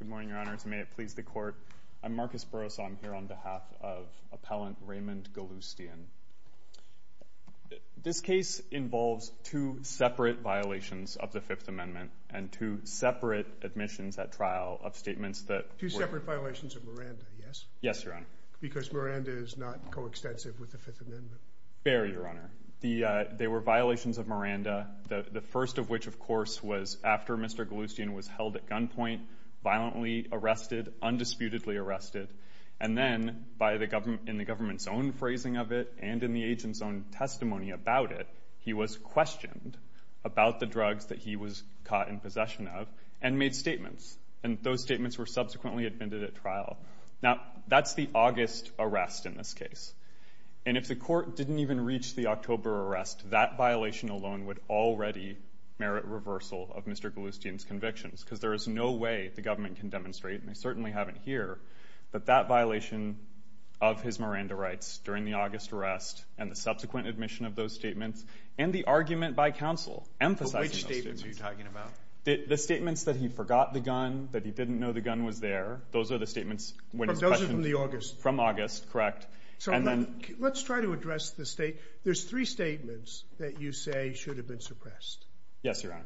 Good morning, Your Honor. May it please the Court. I'm Marcus Borosow. I'm here on behalf of Appellant Raymond Ghaloustian. This case involves two separate violations of the Fifth Amendment and two separate admissions at trial of statements that were- Two separate violations of Miranda, yes? Yes, Your Honor. Because Miranda is not coextensive with the Fifth Amendment. Fair, Your Honor. They were violations of Miranda, the first of which, of course, was after Mr. Ghaloustian was held at gunpoint, violently arrested, undisputedly arrested, and then, in the government's own phrasing of it and in the agent's own testimony about it, he was questioned about the drugs that he was caught in possession of and made statements. And those statements were subsequently admitted at trial. Now, that's the August arrest in this case. And if the Court didn't even reach the October arrest, that violation alone would already merit reversal of Mr. Ghaloustian's convictions because there is no way the government can demonstrate, and they certainly haven't here, that that violation of his Miranda rights during the August arrest and the subsequent admission of those statements and the argument by counsel emphasizing those statements- that he didn't know the gun was there. Those are the statements when he was questioned- Those are from the August. From August, correct. And then- Let's try to address the state- There's three statements that you say should have been suppressed. Yes, Your Honor.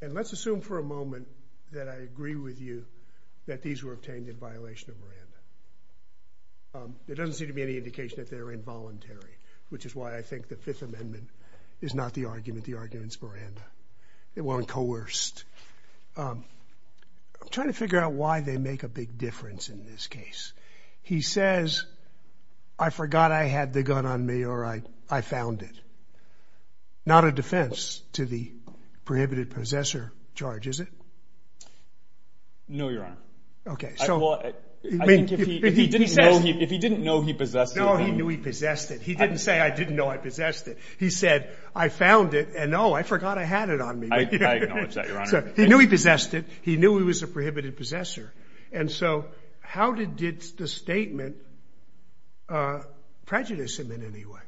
And let's assume for a moment that I agree with you that these were obtained in violation of Miranda. There doesn't seem to be any indication that they're involuntary, which is why I think the Fifth Amendment is not the argument. The argument's Miranda. They weren't coerced. I'm trying to figure out why they make a big difference in this case. He says, I forgot I had the gun on me or I found it. Not a defense to the prohibited possessor charge, is it? No, Your Honor. Okay, so- I think if he didn't know he possessed it- No, he knew he possessed it. He didn't say, I didn't know I possessed it. He said, I found it and, oh, I forgot I had it on me. I acknowledge that, Your Honor. He knew he possessed it. He knew he was a prohibited possessor. And so how did the statement prejudice him in any way?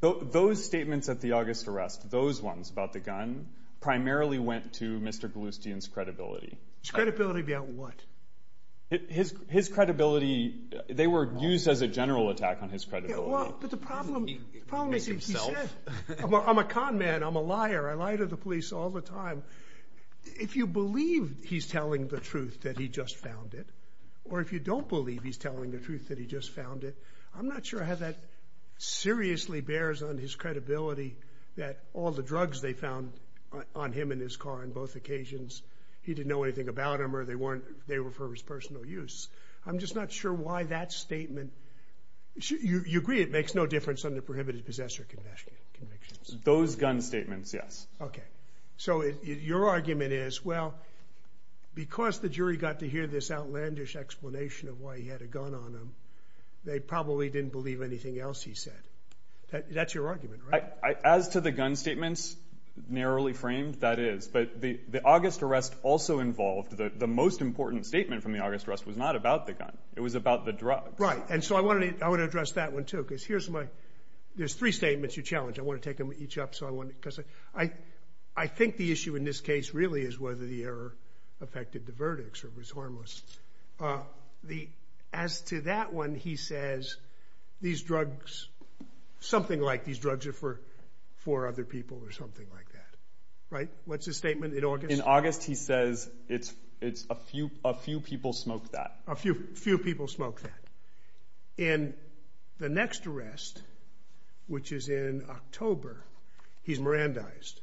Those statements at the August arrest, those ones about the gun, primarily went to Mr. Galustian's credibility. His credibility about what? His credibility- They were used as a general attack on his credibility. But the problem is he said, I'm a con man, I'm a liar, I lie to the police all the time. If you believe he's telling the truth that he just found it, or if you don't believe he's telling the truth that he just found it, I'm not sure how that seriously bears on his credibility that all the drugs they found on him and his car on both occasions, he didn't know anything about them or they were for his personal use. I'm just not sure why that statement- You agree it makes no difference under prohibited possessor convictions? Those gun statements, yes. Okay. So your argument is, well, because the jury got to hear this outlandish explanation of why he had a gun on him, they probably didn't believe anything else he said. That's your argument, right? As to the gun statements, narrowly framed, that is. But the August arrest also involved- the most important statement from the August arrest was not about the gun. It was about the drugs. Right. And so I want to address that one, too, because here's my- there's three statements you challenged. I want to take them each up, because I think the issue in this case really is whether the error affected the verdicts or was harmless. As to that one, he says, these drugs- something like these drugs are for other people or something like that. Right? What's his statement in August? In August, he says, it's a few people smoked that. A few people smoked that. In the next arrest, which is in October, he's Mirandized.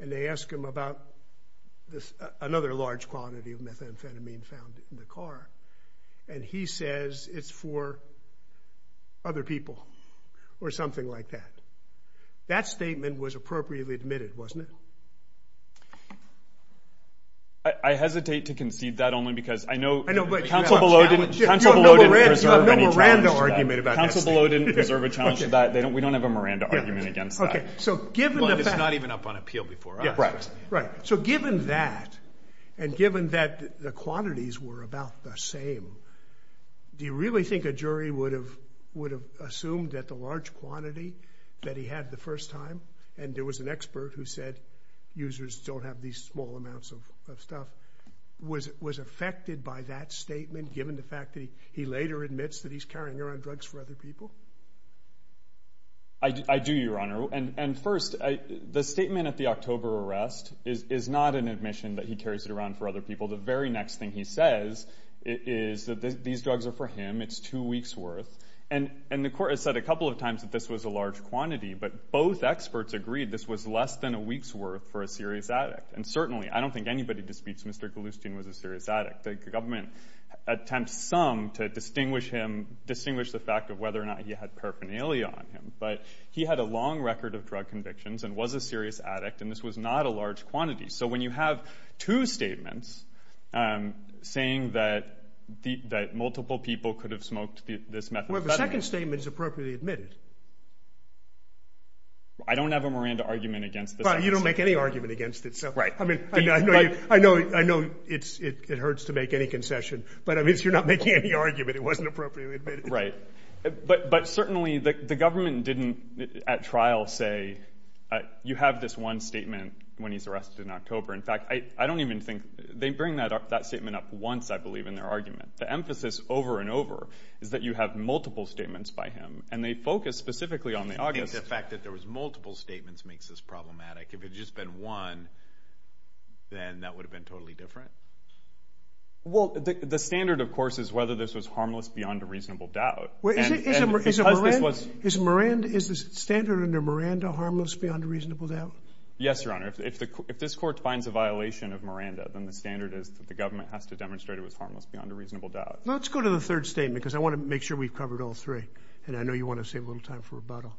And they ask him about another large quantity of methamphetamine found in the car. And he says, it's for other people or something like that. That statement was appropriately admitted, wasn't it? I hesitate to concede that only because I know- I know, but you have a challenge. You have no Miranda argument about testing. Council below didn't reserve a challenge to that. We don't have a Miranda argument against that. But it's not even up on appeal before us. Right. So given that, and given that the quantities were about the same, do you really think a jury would have assumed that the large quantity that he had the first time, and there was an expert who said users don't have these small amounts of stuff, was affected by that statement given the fact that he later admits that he's carrying around drugs for other people? I do, Your Honor. And first, the statement at the October arrest is not an admission that he carries it around for other people. The very next thing he says is that these drugs are for him. It's two weeks' worth. And the court has said a couple of times that this was a large quantity. But both experts agreed this was less than a week's worth for a serious addict. And certainly, I don't think anybody disputes Mr. Galustine was a serious addict. The government attempts some to distinguish him, distinguish the fact of whether or not he had paraphernalia on him. But he had a long record of drug convictions and was a serious addict, and this was not a large quantity. So when you have two statements saying that multiple people could have smoked this methadone- I don't have a Miranda argument against this. Well, you don't make any argument against it. Right. I mean, I know it hurts to make any concession, but I guess you're not making any argument. It wasn't appropriately admitted. Right. But certainly, the government didn't at trial say you have this one statement when he's arrested in October. In fact, I don't even think they bring that statement up once, I believe, in their argument. The emphasis over and over is that you have multiple statements by him, and they focus specifically on the August- The fact that there was multiple statements makes this problematic. If it had just been one, then that would have been totally different. Well, the standard, of course, is whether this was harmless beyond a reasonable doubt. Is Miranda harmless beyond a reasonable doubt? Yes, Your Honor. If this court finds a violation of Miranda, then the standard is that the government has to demonstrate it was harmless beyond a reasonable doubt. Let's go to the third statement because I want to make sure we've covered all three, and I know you want to save a little time for rebuttal.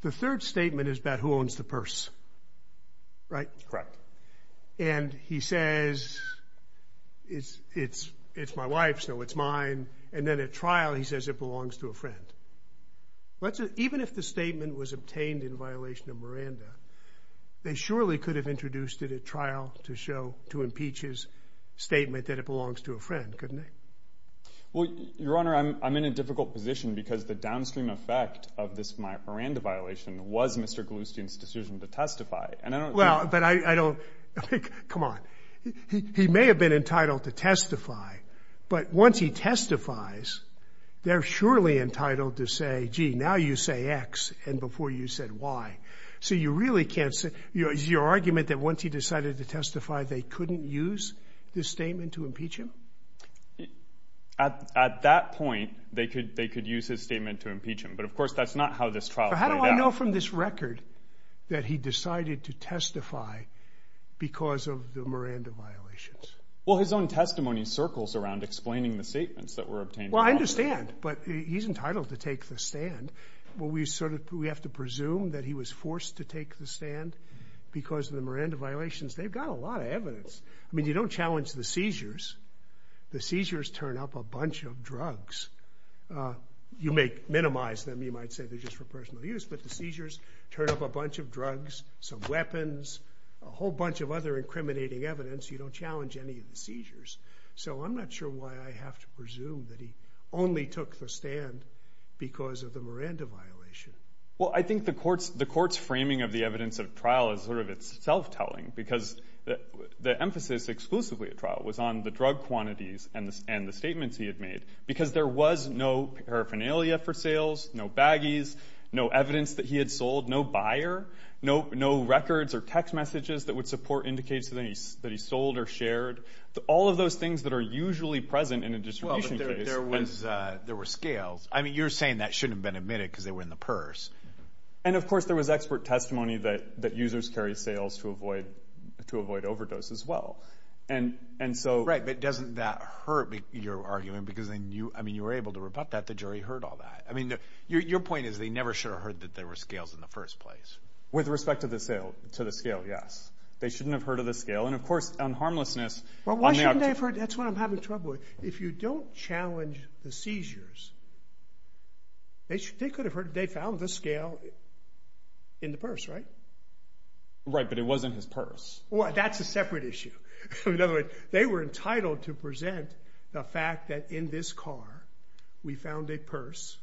The third statement is about who owns the purse, right? Correct. And he says, it's my wife's, so it's mine. And then at trial, he says it belongs to a friend. Even if the statement was obtained in violation of Miranda, they surely could have introduced it at trial to impeach his statement that it belongs to a friend, couldn't they? Well, Your Honor, I'm in a difficult position because the downstream effect of this Miranda violation was Mr. Galustian's decision to testify. Well, but I don't think, come on, he may have been entitled to testify, but once he testifies, they're surely entitled to say, gee, now you say X and before you said Y. So you really can't say, is your argument that once he decided to testify, they couldn't use this statement to impeach him? At that point, they could use his statement to impeach him, but of course, that's not how this trial played out. How do I know from this record that he decided to testify because of the Miranda violations? Well, his own testimony circles around explaining the statements that were obtained. Well, I understand, but he's entitled to take the stand. Well, we have to presume that he was forced to take the stand because of the Miranda violations. They've got a lot of evidence. I mean, you don't challenge the seizures. The seizures turn up a bunch of drugs. You may minimize them. You might say they're just for personal use, but the seizures turn up a bunch of drugs, some weapons, a whole bunch of other incriminating evidence. You don't challenge any of the seizures. So I'm not sure why I have to presume that he only took the stand because of the Miranda violation. Well, I think the court's framing of the evidence of trial is sort of its self-telling because the emphasis exclusively at trial was on the drug quantities and the statements he had made because there was no paraphernalia for sales, no baggies, no evidence that he had sold, no buyer, no records or text messages that would support indicates that he sold or shared. All of those things that are usually present in a distribution case. Well, but there were scales. I mean, you're saying that shouldn't have been admitted because they were in the purse. And, of course, there was expert testimony that users carry sales to avoid overdose as well. Right, but doesn't that hurt your argument? Because you were able to rebut that. The jury heard all that. I mean, your point is they never should have heard that there were scales in the first place. With respect to the scale, yes. They shouldn't have heard of the scale. And, of course, on harmlessness. Well, why shouldn't they have heard? That's what I'm having trouble with. If you don't challenge the seizures, they could have heard they found the scale in the purse, right? Right, but it was in his purse. Well, that's a separate issue. In other words, they were entitled to present the fact that in this car we found a purse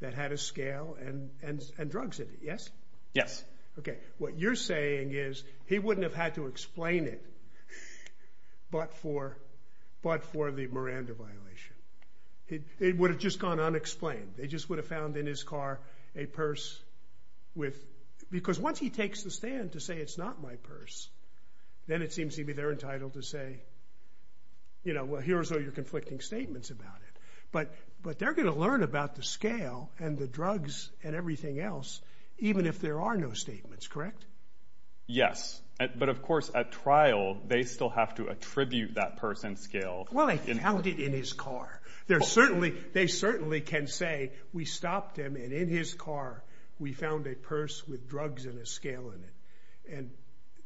that had a scale and drugs in it. Yes? Yes. Okay, what you're saying is he wouldn't have had to explain it but for the Miranda violation. It would have just gone unexplained. They just would have found in his car a purse with—because once he takes the stand to say it's not my purse, then it seems to me they're entitled to say, you know, well, here's all your conflicting statements about it. But they're going to learn about the scale and the drugs and everything else even if there are no statements, correct? Yes, but, of course, at trial they still have to attribute that purse and scale. Well, they found it in his car. They certainly can say we stopped him and in his car we found a purse with drugs and a scale in it. And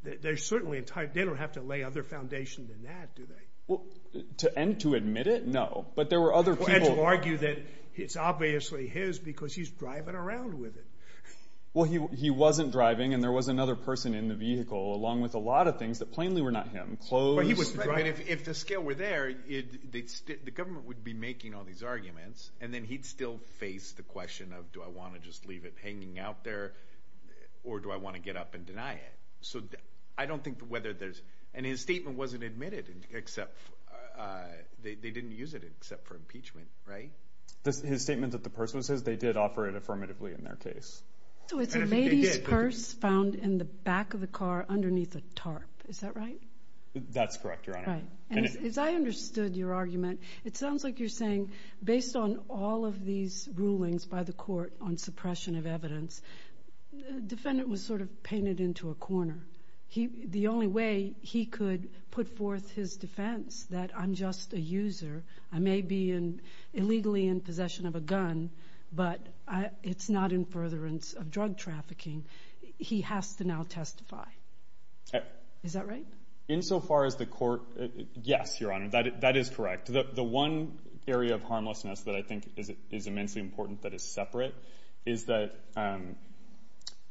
they don't have to lay other foundations than that, do they? Well, and to admit it, no. But there were other people— Well, and to argue that it's obviously his because he's driving around with it. Well, he wasn't driving and there was another person in the vehicle along with a lot of things that plainly were not him. Clothes. But he was driving. If the scale were there, the government would be making all these arguments and then he'd still face the question of do I want to just leave it hanging out there or do I want to get up and deny it? So I don't think whether there's—and his statement wasn't admitted except they didn't use it except for impeachment, right? His statement that the purse was his, they did offer it affirmatively in their case. So it's a lady's purse found in the back of the car underneath a tarp, is that right? That's correct, Your Honor. As I understood your argument, it sounds like you're saying based on all of these rulings by the court on suppression of evidence, the defendant was sort of painted into a corner. The only way he could put forth his defense that I'm just a user, I may be illegally in possession of a gun, but it's not in furtherance of drug trafficking, he has to now testify. Is that right? Insofar as the court—yes, Your Honor, that is correct. The one area of harmlessness that I think is immensely important that is separate is that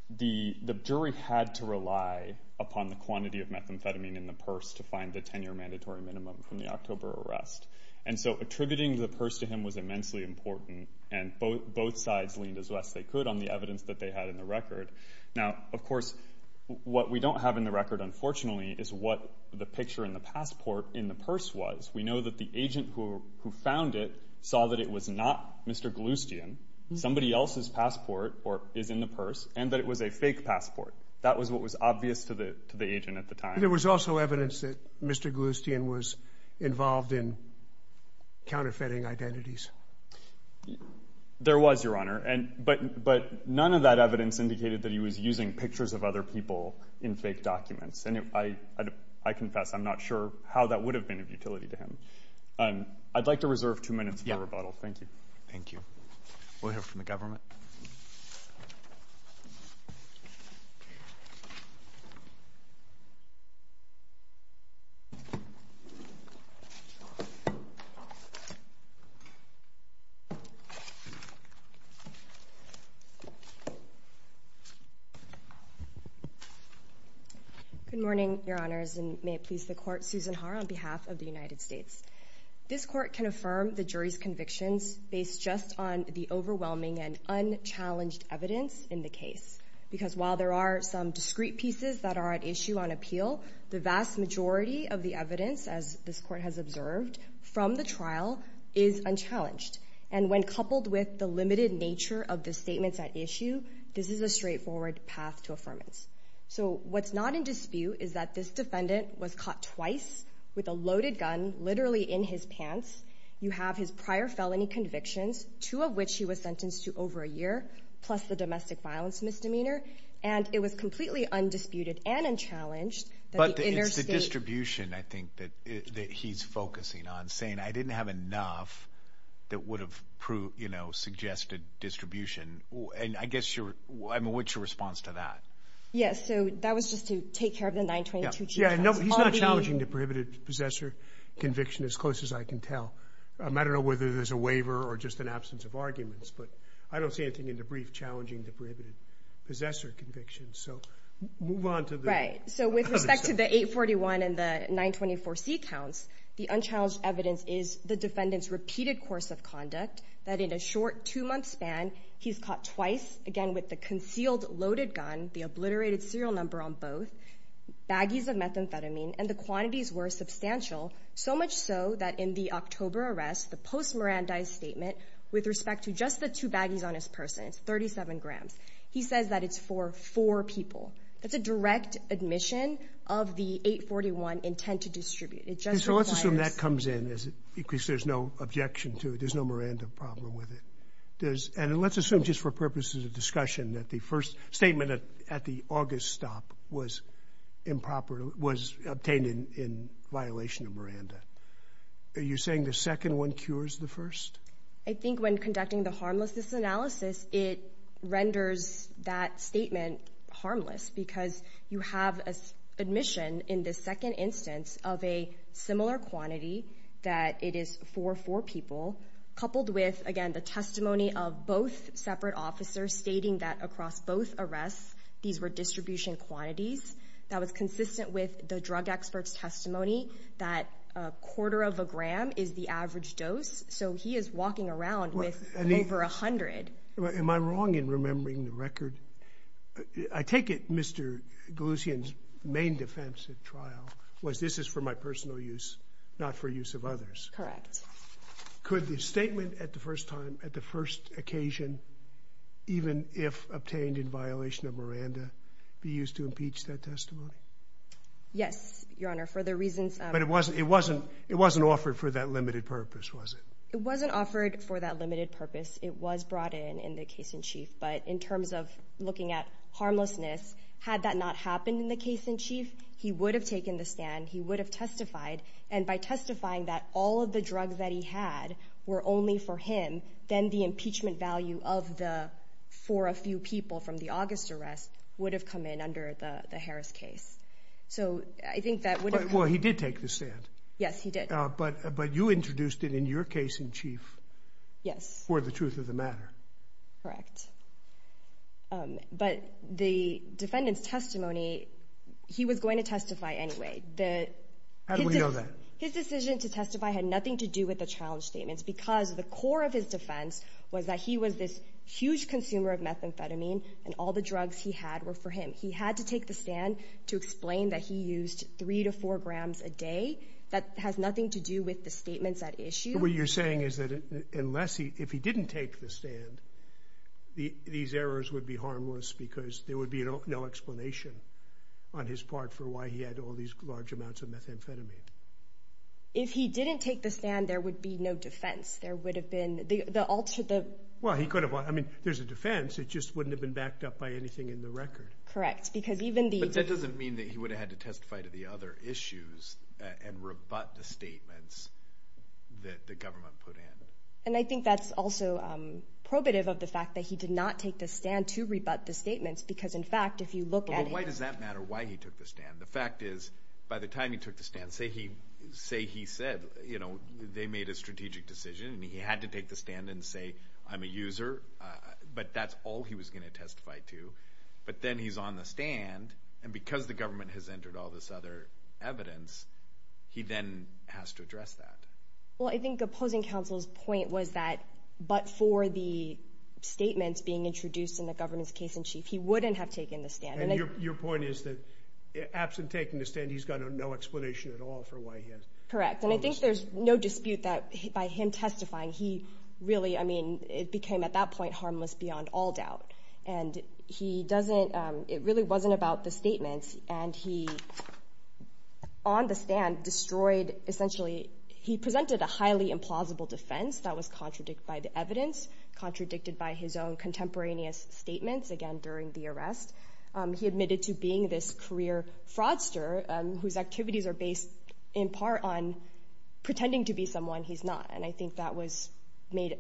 the jury had to rely upon the quantity of methamphetamine in the purse to find the 10-year mandatory minimum from the October arrest. And so attributing the purse to him was immensely important, and both sides leaned as best they could on the evidence that they had in the record. Now, of course, what we don't have in the record, unfortunately, is what the picture in the passport in the purse was. We know that the agent who found it saw that it was not Mr. Gloucestian, somebody else's passport is in the purse, and that it was a fake passport. That was what was obvious to the agent at the time. There was also evidence that Mr. Gloucestian was involved in counterfeiting identities. There was, Your Honor, but none of that evidence indicated that he was using pictures of other people in fake documents. I confess I'm not sure how that would have been of utility to him. I'd like to reserve two minutes for rebuttal. Thank you. Thank you. We'll hear from the government. Good morning, Your Honors, and may it please the Court, Susan Haar on behalf of the United States. This Court can affirm the jury's convictions based just on the overwhelming and unchallenged evidence in the case, because while there are some discrete pieces that are at issue on appeal, the vast majority of the evidence, as this Court has observed, from the trial is unchallenged. And when coupled with the limited nature of the statements at issue, this is a straightforward path to affirmance. So what's not in dispute is that this defendant was caught twice with a loaded gun literally in his pants. You have his prior felony convictions, two of which he was sentenced to over a year, plus the domestic violence misdemeanor. And it was completely undisputed and unchallenged that the interstate— But it's the distribution, I think, that he's focusing on, saying, I didn't have enough that would have, you know, suggested distribution. And I guess your—I mean, what's your response to that? Yes, so that was just to take care of the 922C counts. Yeah, he's not challenging the prohibited possessor conviction as close as I can tell. I don't know whether there's a waiver or just an absence of arguments, but I don't see anything in the brief challenging the prohibited possessor conviction. So move on to the— Right, so with respect to the 841 and the 924C counts, the unchallenged evidence is the defendant's repeated course of conduct, that in a short two-month span, he's caught twice, again, with the concealed loaded gun, the obliterated serial number on both, baggies of methamphetamine, and the quantities were substantial, so much so that in the October arrest, the post-Mirandize statement, with respect to just the two baggies on his person, it's 37 grams, he says that it's for four people. That's a direct admission of the 841 intent to distribute. It just requires— And let's assume, just for purposes of discussion, that the first statement at the August stop was obtained in violation of Miranda. Are you saying the second one cures the first? I think when conducting the harmlessness analysis, it renders that statement harmless because you have admission in the second instance of a similar quantity, that it is for four people, coupled with, again, the testimony of both separate officers stating that across both arrests, these were distribution quantities, that was consistent with the drug expert's testimony that a quarter of a gram is the average dose, so he is walking around with over a hundred. Am I wrong in remembering the record? I take it Mr. Galushian's main defense at trial was this is for my personal use, not for use of others. Correct. Could the statement at the first time, at the first occasion, even if obtained in violation of Miranda, be used to impeach that testimony? Yes, Your Honor, for the reasons— But it wasn't offered for that limited purpose, was it? It wasn't offered for that limited purpose. It was brought in in the case-in-chief, but in terms of looking at harmlessness, had that not happened in the case-in-chief, he would have taken the stand, he would have testified, and by testifying that all of the drugs that he had were only for him, then the impeachment value for a few people from the August arrest would have come in under the Harris case. So I think that would have— Well, he did take the stand. Yes, he did. But you introduced it in your case-in-chief for the truth of the matter. Correct. But the defendant's testimony, he was going to testify anyway. How do we know that? His decision to testify had nothing to do with the challenge statements because the core of his defense was that he was this huge consumer of methamphetamine and all the drugs he had were for him. He had to take the stand to explain that he used three to four grams a day. That has nothing to do with the statements at issue. So what you're saying is that if he didn't take the stand, these errors would be harmless because there would be no explanation on his part for why he had all these large amounts of methamphetamine. If he didn't take the stand, there would be no defense. There would have been— Well, he could have. I mean, there's a defense. It just wouldn't have been backed up by anything in the record. Correct, because even the— But that doesn't mean that he would have had to testify to the other issues and rebut the statements that the government put in. And I think that's also probative of the fact that he did not take the stand to rebut the statements because, in fact, if you look at him— Well, why does that matter why he took the stand? The fact is, by the time he took the stand, say he said they made a strategic decision and he had to take the stand and say, I'm a user, but that's all he was going to testify to. But then he's on the stand, and because the government has entered all this other evidence, he then has to address that. Well, I think opposing counsel's point was that but for the statements being introduced in the governance case in chief, he wouldn't have taken the stand. And your point is that absent taking the stand, he's got no explanation at all for why he has— Correct, and I think there's no dispute that by him testifying, he really— I mean, it became, at that point, harmless beyond all doubt. And he doesn't—it really wasn't about the statements. And he, on the stand, destroyed—essentially, he presented a highly implausible defense that was contradicted by the evidence, contradicted by his own contemporaneous statements, again, during the arrest. He admitted to being this career fraudster whose activities are based, in part, on pretending to be someone he's not. And I think that was made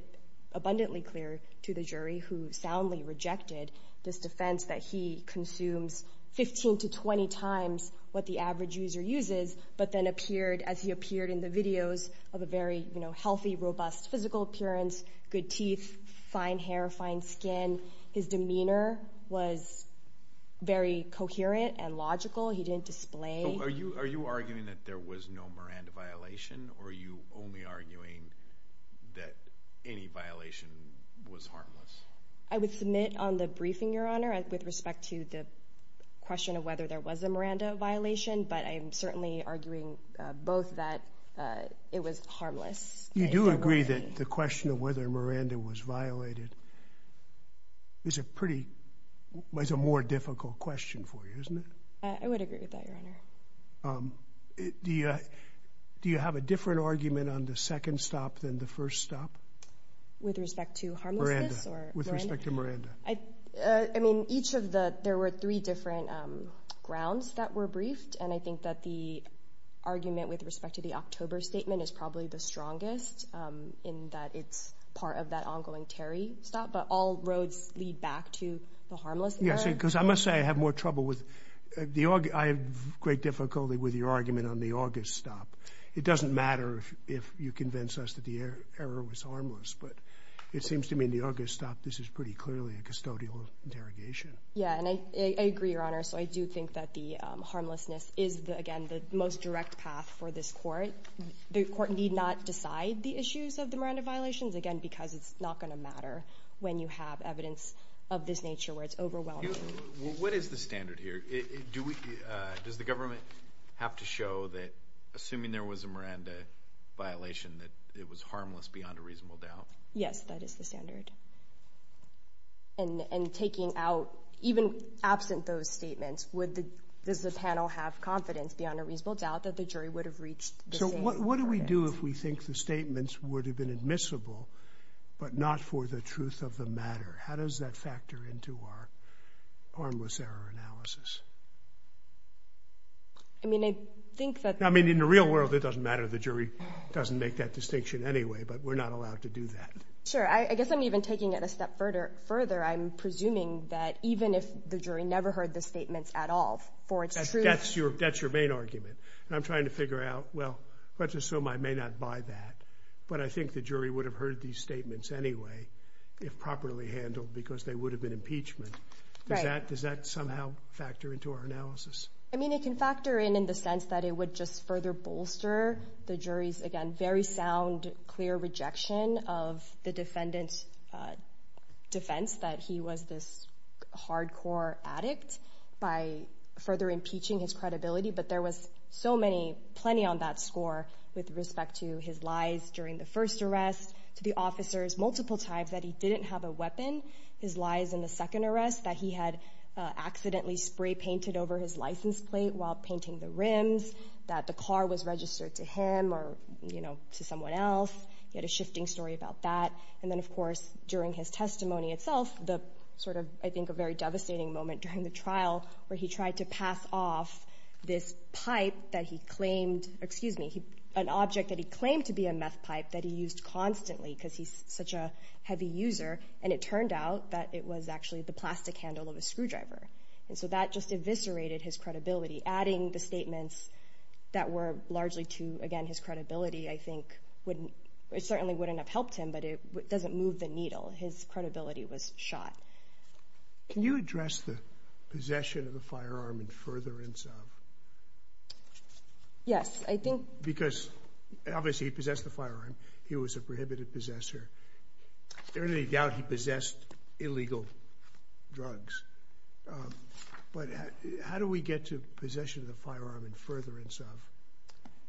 abundantly clear to the jury who soundly rejected this defense that he consumes 15 to 20 times what the average user uses, but then appeared, as he appeared in the videos, of a very healthy, robust physical appearance, good teeth, fine hair, fine skin. His demeanor was very coherent and logical. He didn't display— Are you arguing that there was no Miranda violation, or are you only arguing that any violation was harmless? I would submit on the briefing, Your Honor, with respect to the question of whether there was a Miranda violation, but I am certainly arguing both that it was harmless. You do agree that the question of whether Miranda was violated is a pretty— was a more difficult question for you, isn't it? I would agree with that, Your Honor. Do you have a different argument on the second stop than the first stop? With respect to harmlessness? With respect to Miranda. I mean, each of the—there were three different grounds that were briefed, and I think that the argument with respect to the October statement is probably the strongest in that it's part of that ongoing Terry stop, but all roads lead back to the harmless error. Because I must say I have more trouble with—I have great difficulty with your argument on the August stop. It doesn't matter if you convince us that the error was harmless, but it seems to me in the August stop this is pretty clearly a custodial interrogation. Yeah, and I agree, Your Honor, so I do think that the harmlessness is, again, the most direct path for this Court. The Court need not decide the issues of the Miranda violations, again, because it's not going to matter when you have evidence of this nature where it's overwhelming. What is the standard here? Does the government have to show that, assuming there was a Miranda violation, that it was harmless beyond a reasonable doubt? Yes, that is the standard. And taking out—even absent those statements, does the panel have confidence beyond a reasonable doubt that the jury would have reached the same argument? So what do we do if we think the statements would have been admissible but not for the truth of the matter? How does that factor into our harmless error analysis? I mean, I think that— I mean, in the real world it doesn't matter. The jury doesn't make that distinction anyway, but we're not allowed to do that. Sure, I guess I'm even taking it a step further. I'm presuming that even if the jury never heard the statements at all for its truth— That's your main argument. And I'm trying to figure out, well, let's assume I may not buy that, but I think the jury would have heard these statements anyway if properly handled because they would have been impeachment. Does that somehow factor into our analysis? I mean, it can factor in in the sense that it would just further bolster the jury's, again, very sound, clear rejection of the defendant's defense that he was this hardcore addict by further impeaching his credibility. But there was so many, plenty on that score with respect to his lies during the first arrest, to the officer's multiple times that he didn't have a weapon, his lies in the second arrest, that he had accidentally spray-painted over his license plate while painting the rims, that the car was registered to him or, you know, to someone else. He had a shifting story about that. And then, of course, during his testimony itself, the sort of, I think, a very devastating moment during the trial where he tried to pass off this pipe that he claimed, excuse me, an object that he claimed to be a meth pipe that he used constantly because he's such a heavy user, and it turned out that it was actually the plastic handle of a screwdriver. And so that just eviscerated his credibility. Adding the statements that were largely to, again, his credibility, I think, certainly wouldn't have helped him, but it doesn't move the needle. His credibility was shot. Can you address the possession of the firearm and furtherance of? Yes. I think... Because, obviously, he possessed the firearm. He was a prohibited possessor. There is no doubt he possessed illegal drugs. But how do we get to possession of the firearm and furtherance of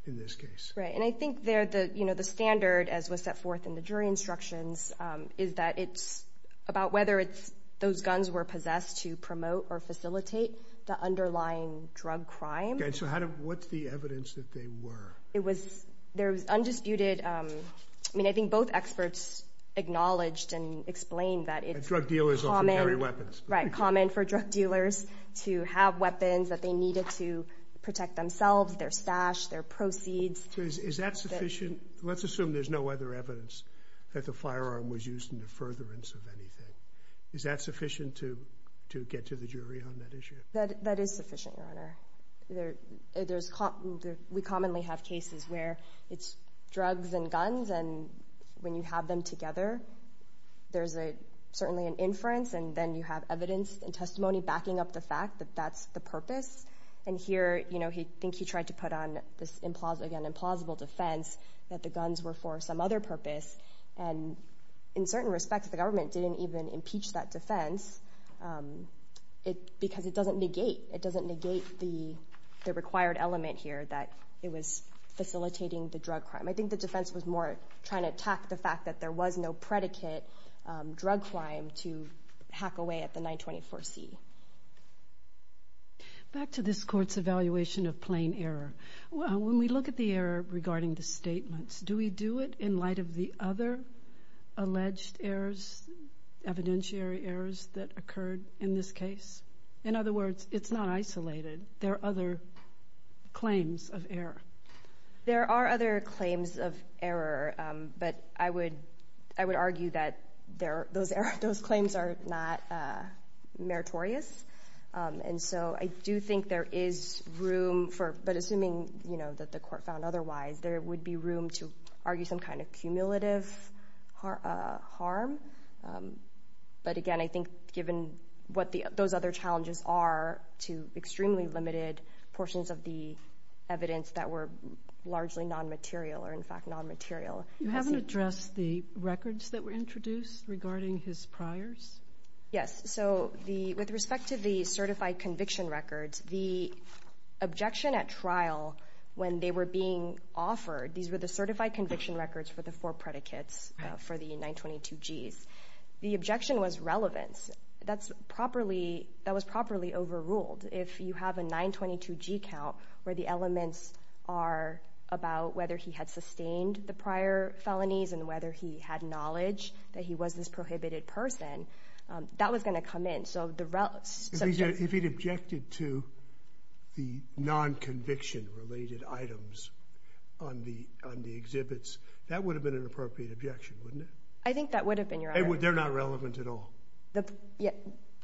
in this case? Right. And I think there, you know, the standard, as was set forth in the jury instructions, is that it's about whether those guns were possessed to promote or facilitate the underlying drug crime. Okay. So what's the evidence that they were? There was undisputed... I mean, I think both experts acknowledged and explained that it's common... Drug dealers often carry weapons. Right. Common for drug dealers to have weapons that they needed to protect themselves, their stash, their proceeds. Is that sufficient? Let's assume there's no other evidence that the firearm was used in the furtherance of anything. Is that sufficient to get to the jury on that issue? That is sufficient, Your Honor. We commonly have cases where it's drugs and guns, and when you have them together, there's certainly an inference, and then you have evidence and testimony backing up the fact that that's the purpose. And here, you know, I think he tried to put on, again, an implausible defense that the guns were for some other purpose. And in certain respects, the government didn't even impeach that defense because it doesn't negate the required element here that it was facilitating the drug crime. I think the defense was more trying to attack the fact that there was no predicate drug crime to hack away at the 924C. Back to this court's evaluation of plain error. When we look at the error regarding the statements, do we do it in light of the other alleged errors, evidentiary errors that occurred in this case? In other words, it's not isolated. There are other claims of error. There are other claims of error, but I would argue that those claims are not meritorious. And so I do think there is room for, but assuming, you know, that the court found otherwise, there would be room to argue some kind of cumulative harm. But again, I think given what those other challenges are to extremely limited portions of the evidence that were largely non-material or, in fact, non-material. You haven't addressed the records that were introduced regarding his priors? Yes. So with respect to the certified conviction records, the objection at trial when they were being offered, these were the certified conviction records for the four predicates for the 922Gs. The objection was relevance. That was properly overruled. If you have a 922G count where the elements are about whether he had sustained the prior felonies and whether he had knowledge that he was this prohibited person, that was going to come in. If he'd objected to the non-conviction-related items on the exhibits, that would have been an appropriate objection, wouldn't it? I think that would have been, Your Honor. They're not relevant at all.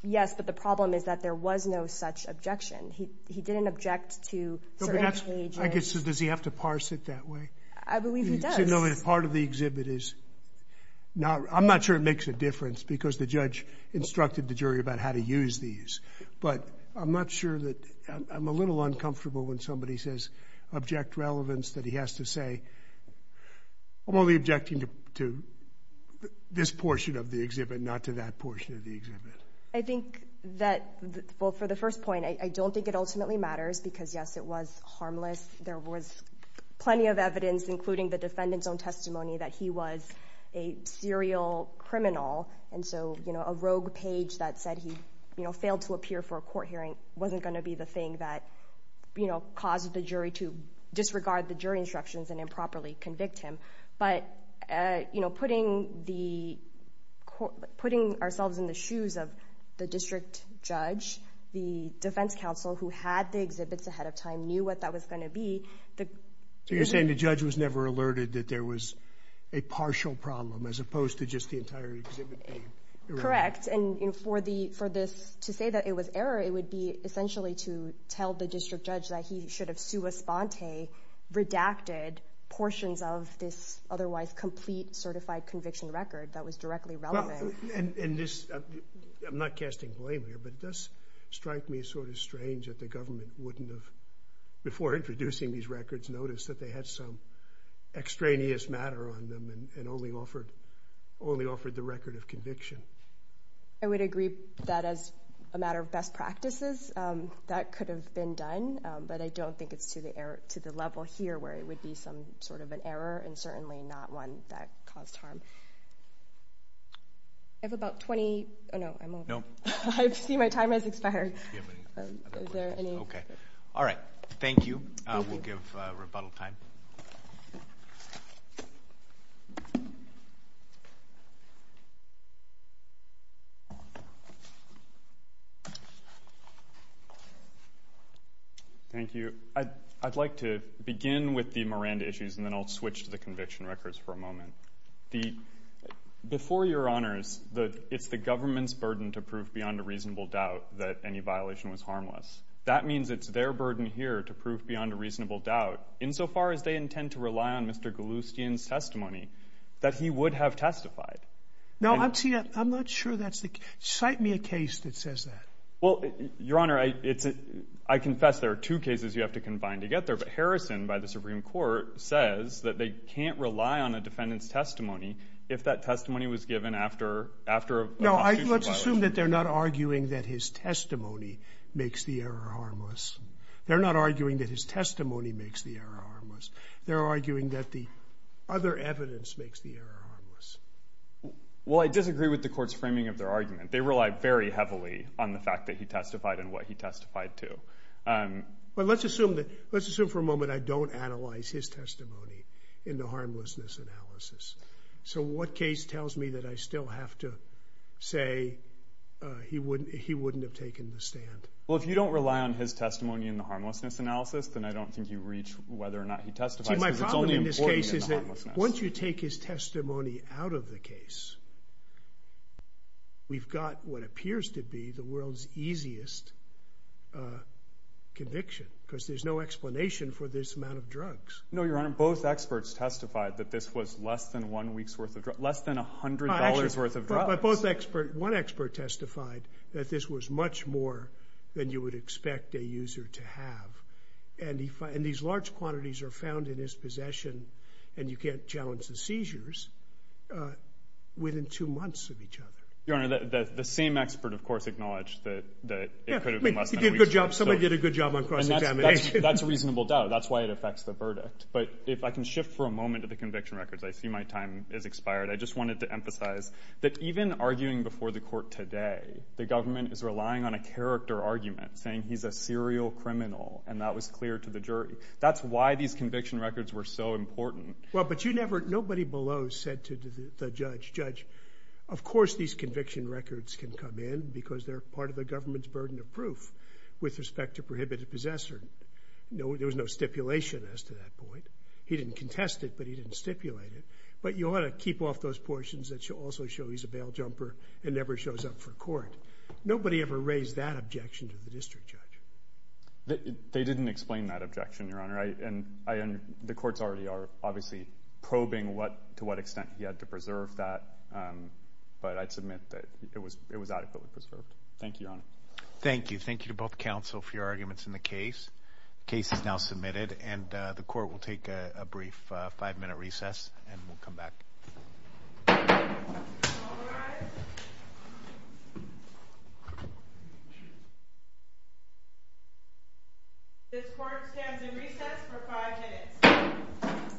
Yes, but the problem is that there was no such objection. He didn't object to certain pages. Does he have to parse it that way? I believe he does. So part of the exhibit is not... The judge instructed the jury about how to use these. But I'm not sure that... I'm a little uncomfortable when somebody says, object relevance, that he has to say, I'm only objecting to this portion of the exhibit, not to that portion of the exhibit. I think that... Well, for the first point, I don't think it ultimately matters because, yes, it was harmless. There was plenty of evidence, including the defendant's own testimony, that he was a serial criminal. And so a rogue page that said he failed to appear for a court hearing wasn't going to be the thing that caused the jury to disregard the jury instructions and improperly convict him. But putting ourselves in the shoes of the district judge, the defense counsel who had the exhibits ahead of time knew what that was going to be. So you're saying the judge was never alerted that there was a partial problem as opposed to just the entire exhibit being... Correct. And for this to say that it was error, it would be essentially to tell the district judge that he should have sua sponte, redacted, portions of this otherwise complete certified conviction record that was directly relevant. And this... I'm not casting blame here, but this strike me sort of strange that the government wouldn't have, before introducing these records, noticed that they had some extraneous matter on them and only offered the record of conviction. I would agree that as a matter of best practices, that could have been done, but I don't think it's to the level here where it would be some sort of an error and certainly not one that caused harm. I have about 20... Oh, no, I'm all... No. I see my time has expired. Is there any... Okay. All right. Thank you. We'll give rebuttal time. Thank you. I'd like to begin with the Miranda issues and then I'll switch to the conviction records for a moment. Before your honors, it's the government's burden to prove beyond a reasonable doubt that any violation was harmless. That means it's their burden here to prove beyond a reasonable doubt, insofar as they intend to rely on Mr. Galustian's testimony that he would have testified. No, I'm not sure that's the case. Cite me a case that says that. Well, your honor, I confess there are two cases you have to combine to get there, but Harrison, by the Supreme Court, says that they can't rely on a defendant's testimony if that testimony was given after a constitutional violation. No, let's assume that they're not arguing that his testimony makes the error harmless. They're not arguing that his testimony makes the error harmless. They're arguing that the other evidence makes the error harmless. Well, I disagree with the court's framing of their argument. They rely very heavily on the fact that he testified and what he testified to. Well, let's assume for a moment I don't analyze his testimony in the harmlessness analysis. So what case tells me that I still have to say he wouldn't have taken the stand? Well, if you don't rely on his testimony in the harmlessness analysis, then I don't think you reach whether or not he testified. See, my problem in this case is that once you take his testimony out of the case, we've got what appears to be the world's easiest conviction because there's no explanation for this amount of drugs. No, your honor, both experts testified that this was less than $100 worth of drugs. But one expert testified that this was much more than you would expect a user to have. And these large quantities are found in his possession, and you can't challenge the seizures, within two months of each other. Your honor, the same expert, of course, acknowledged that it could have been less than a week's worth. Somebody did a good job on cross-examination. That's a reasonable doubt. That's why it affects the verdict. But if I can shift for a moment to the conviction records, I see my time has expired. I just wanted to emphasize that even arguing before the court today, the government is relying on a character argument, saying he's a serial criminal, and that was clear to the jury. That's why these conviction records were so important. Well, but you never... Nobody below said to the judge, Judge, of course these conviction records can come in because they're part of the government's burden of proof with respect to prohibited possessor. There was no stipulation as to that point. He didn't contest it, but he didn't stipulate it. But you ought to keep off those portions that also show he's a bail jumper and never shows up for court. Nobody ever raised that objection to the district judge. They didn't explain that objection, your honor. And the courts already are, obviously, probing to what extent he had to preserve that. But I'd submit that it was adequately preserved. Thank you, your honor. Thank you. Thank you to both counsel for your arguments in the case. The case is now submitted, and the court will take a brief five-minute recess and we'll come back. All rise. This court stands in recess for five minutes.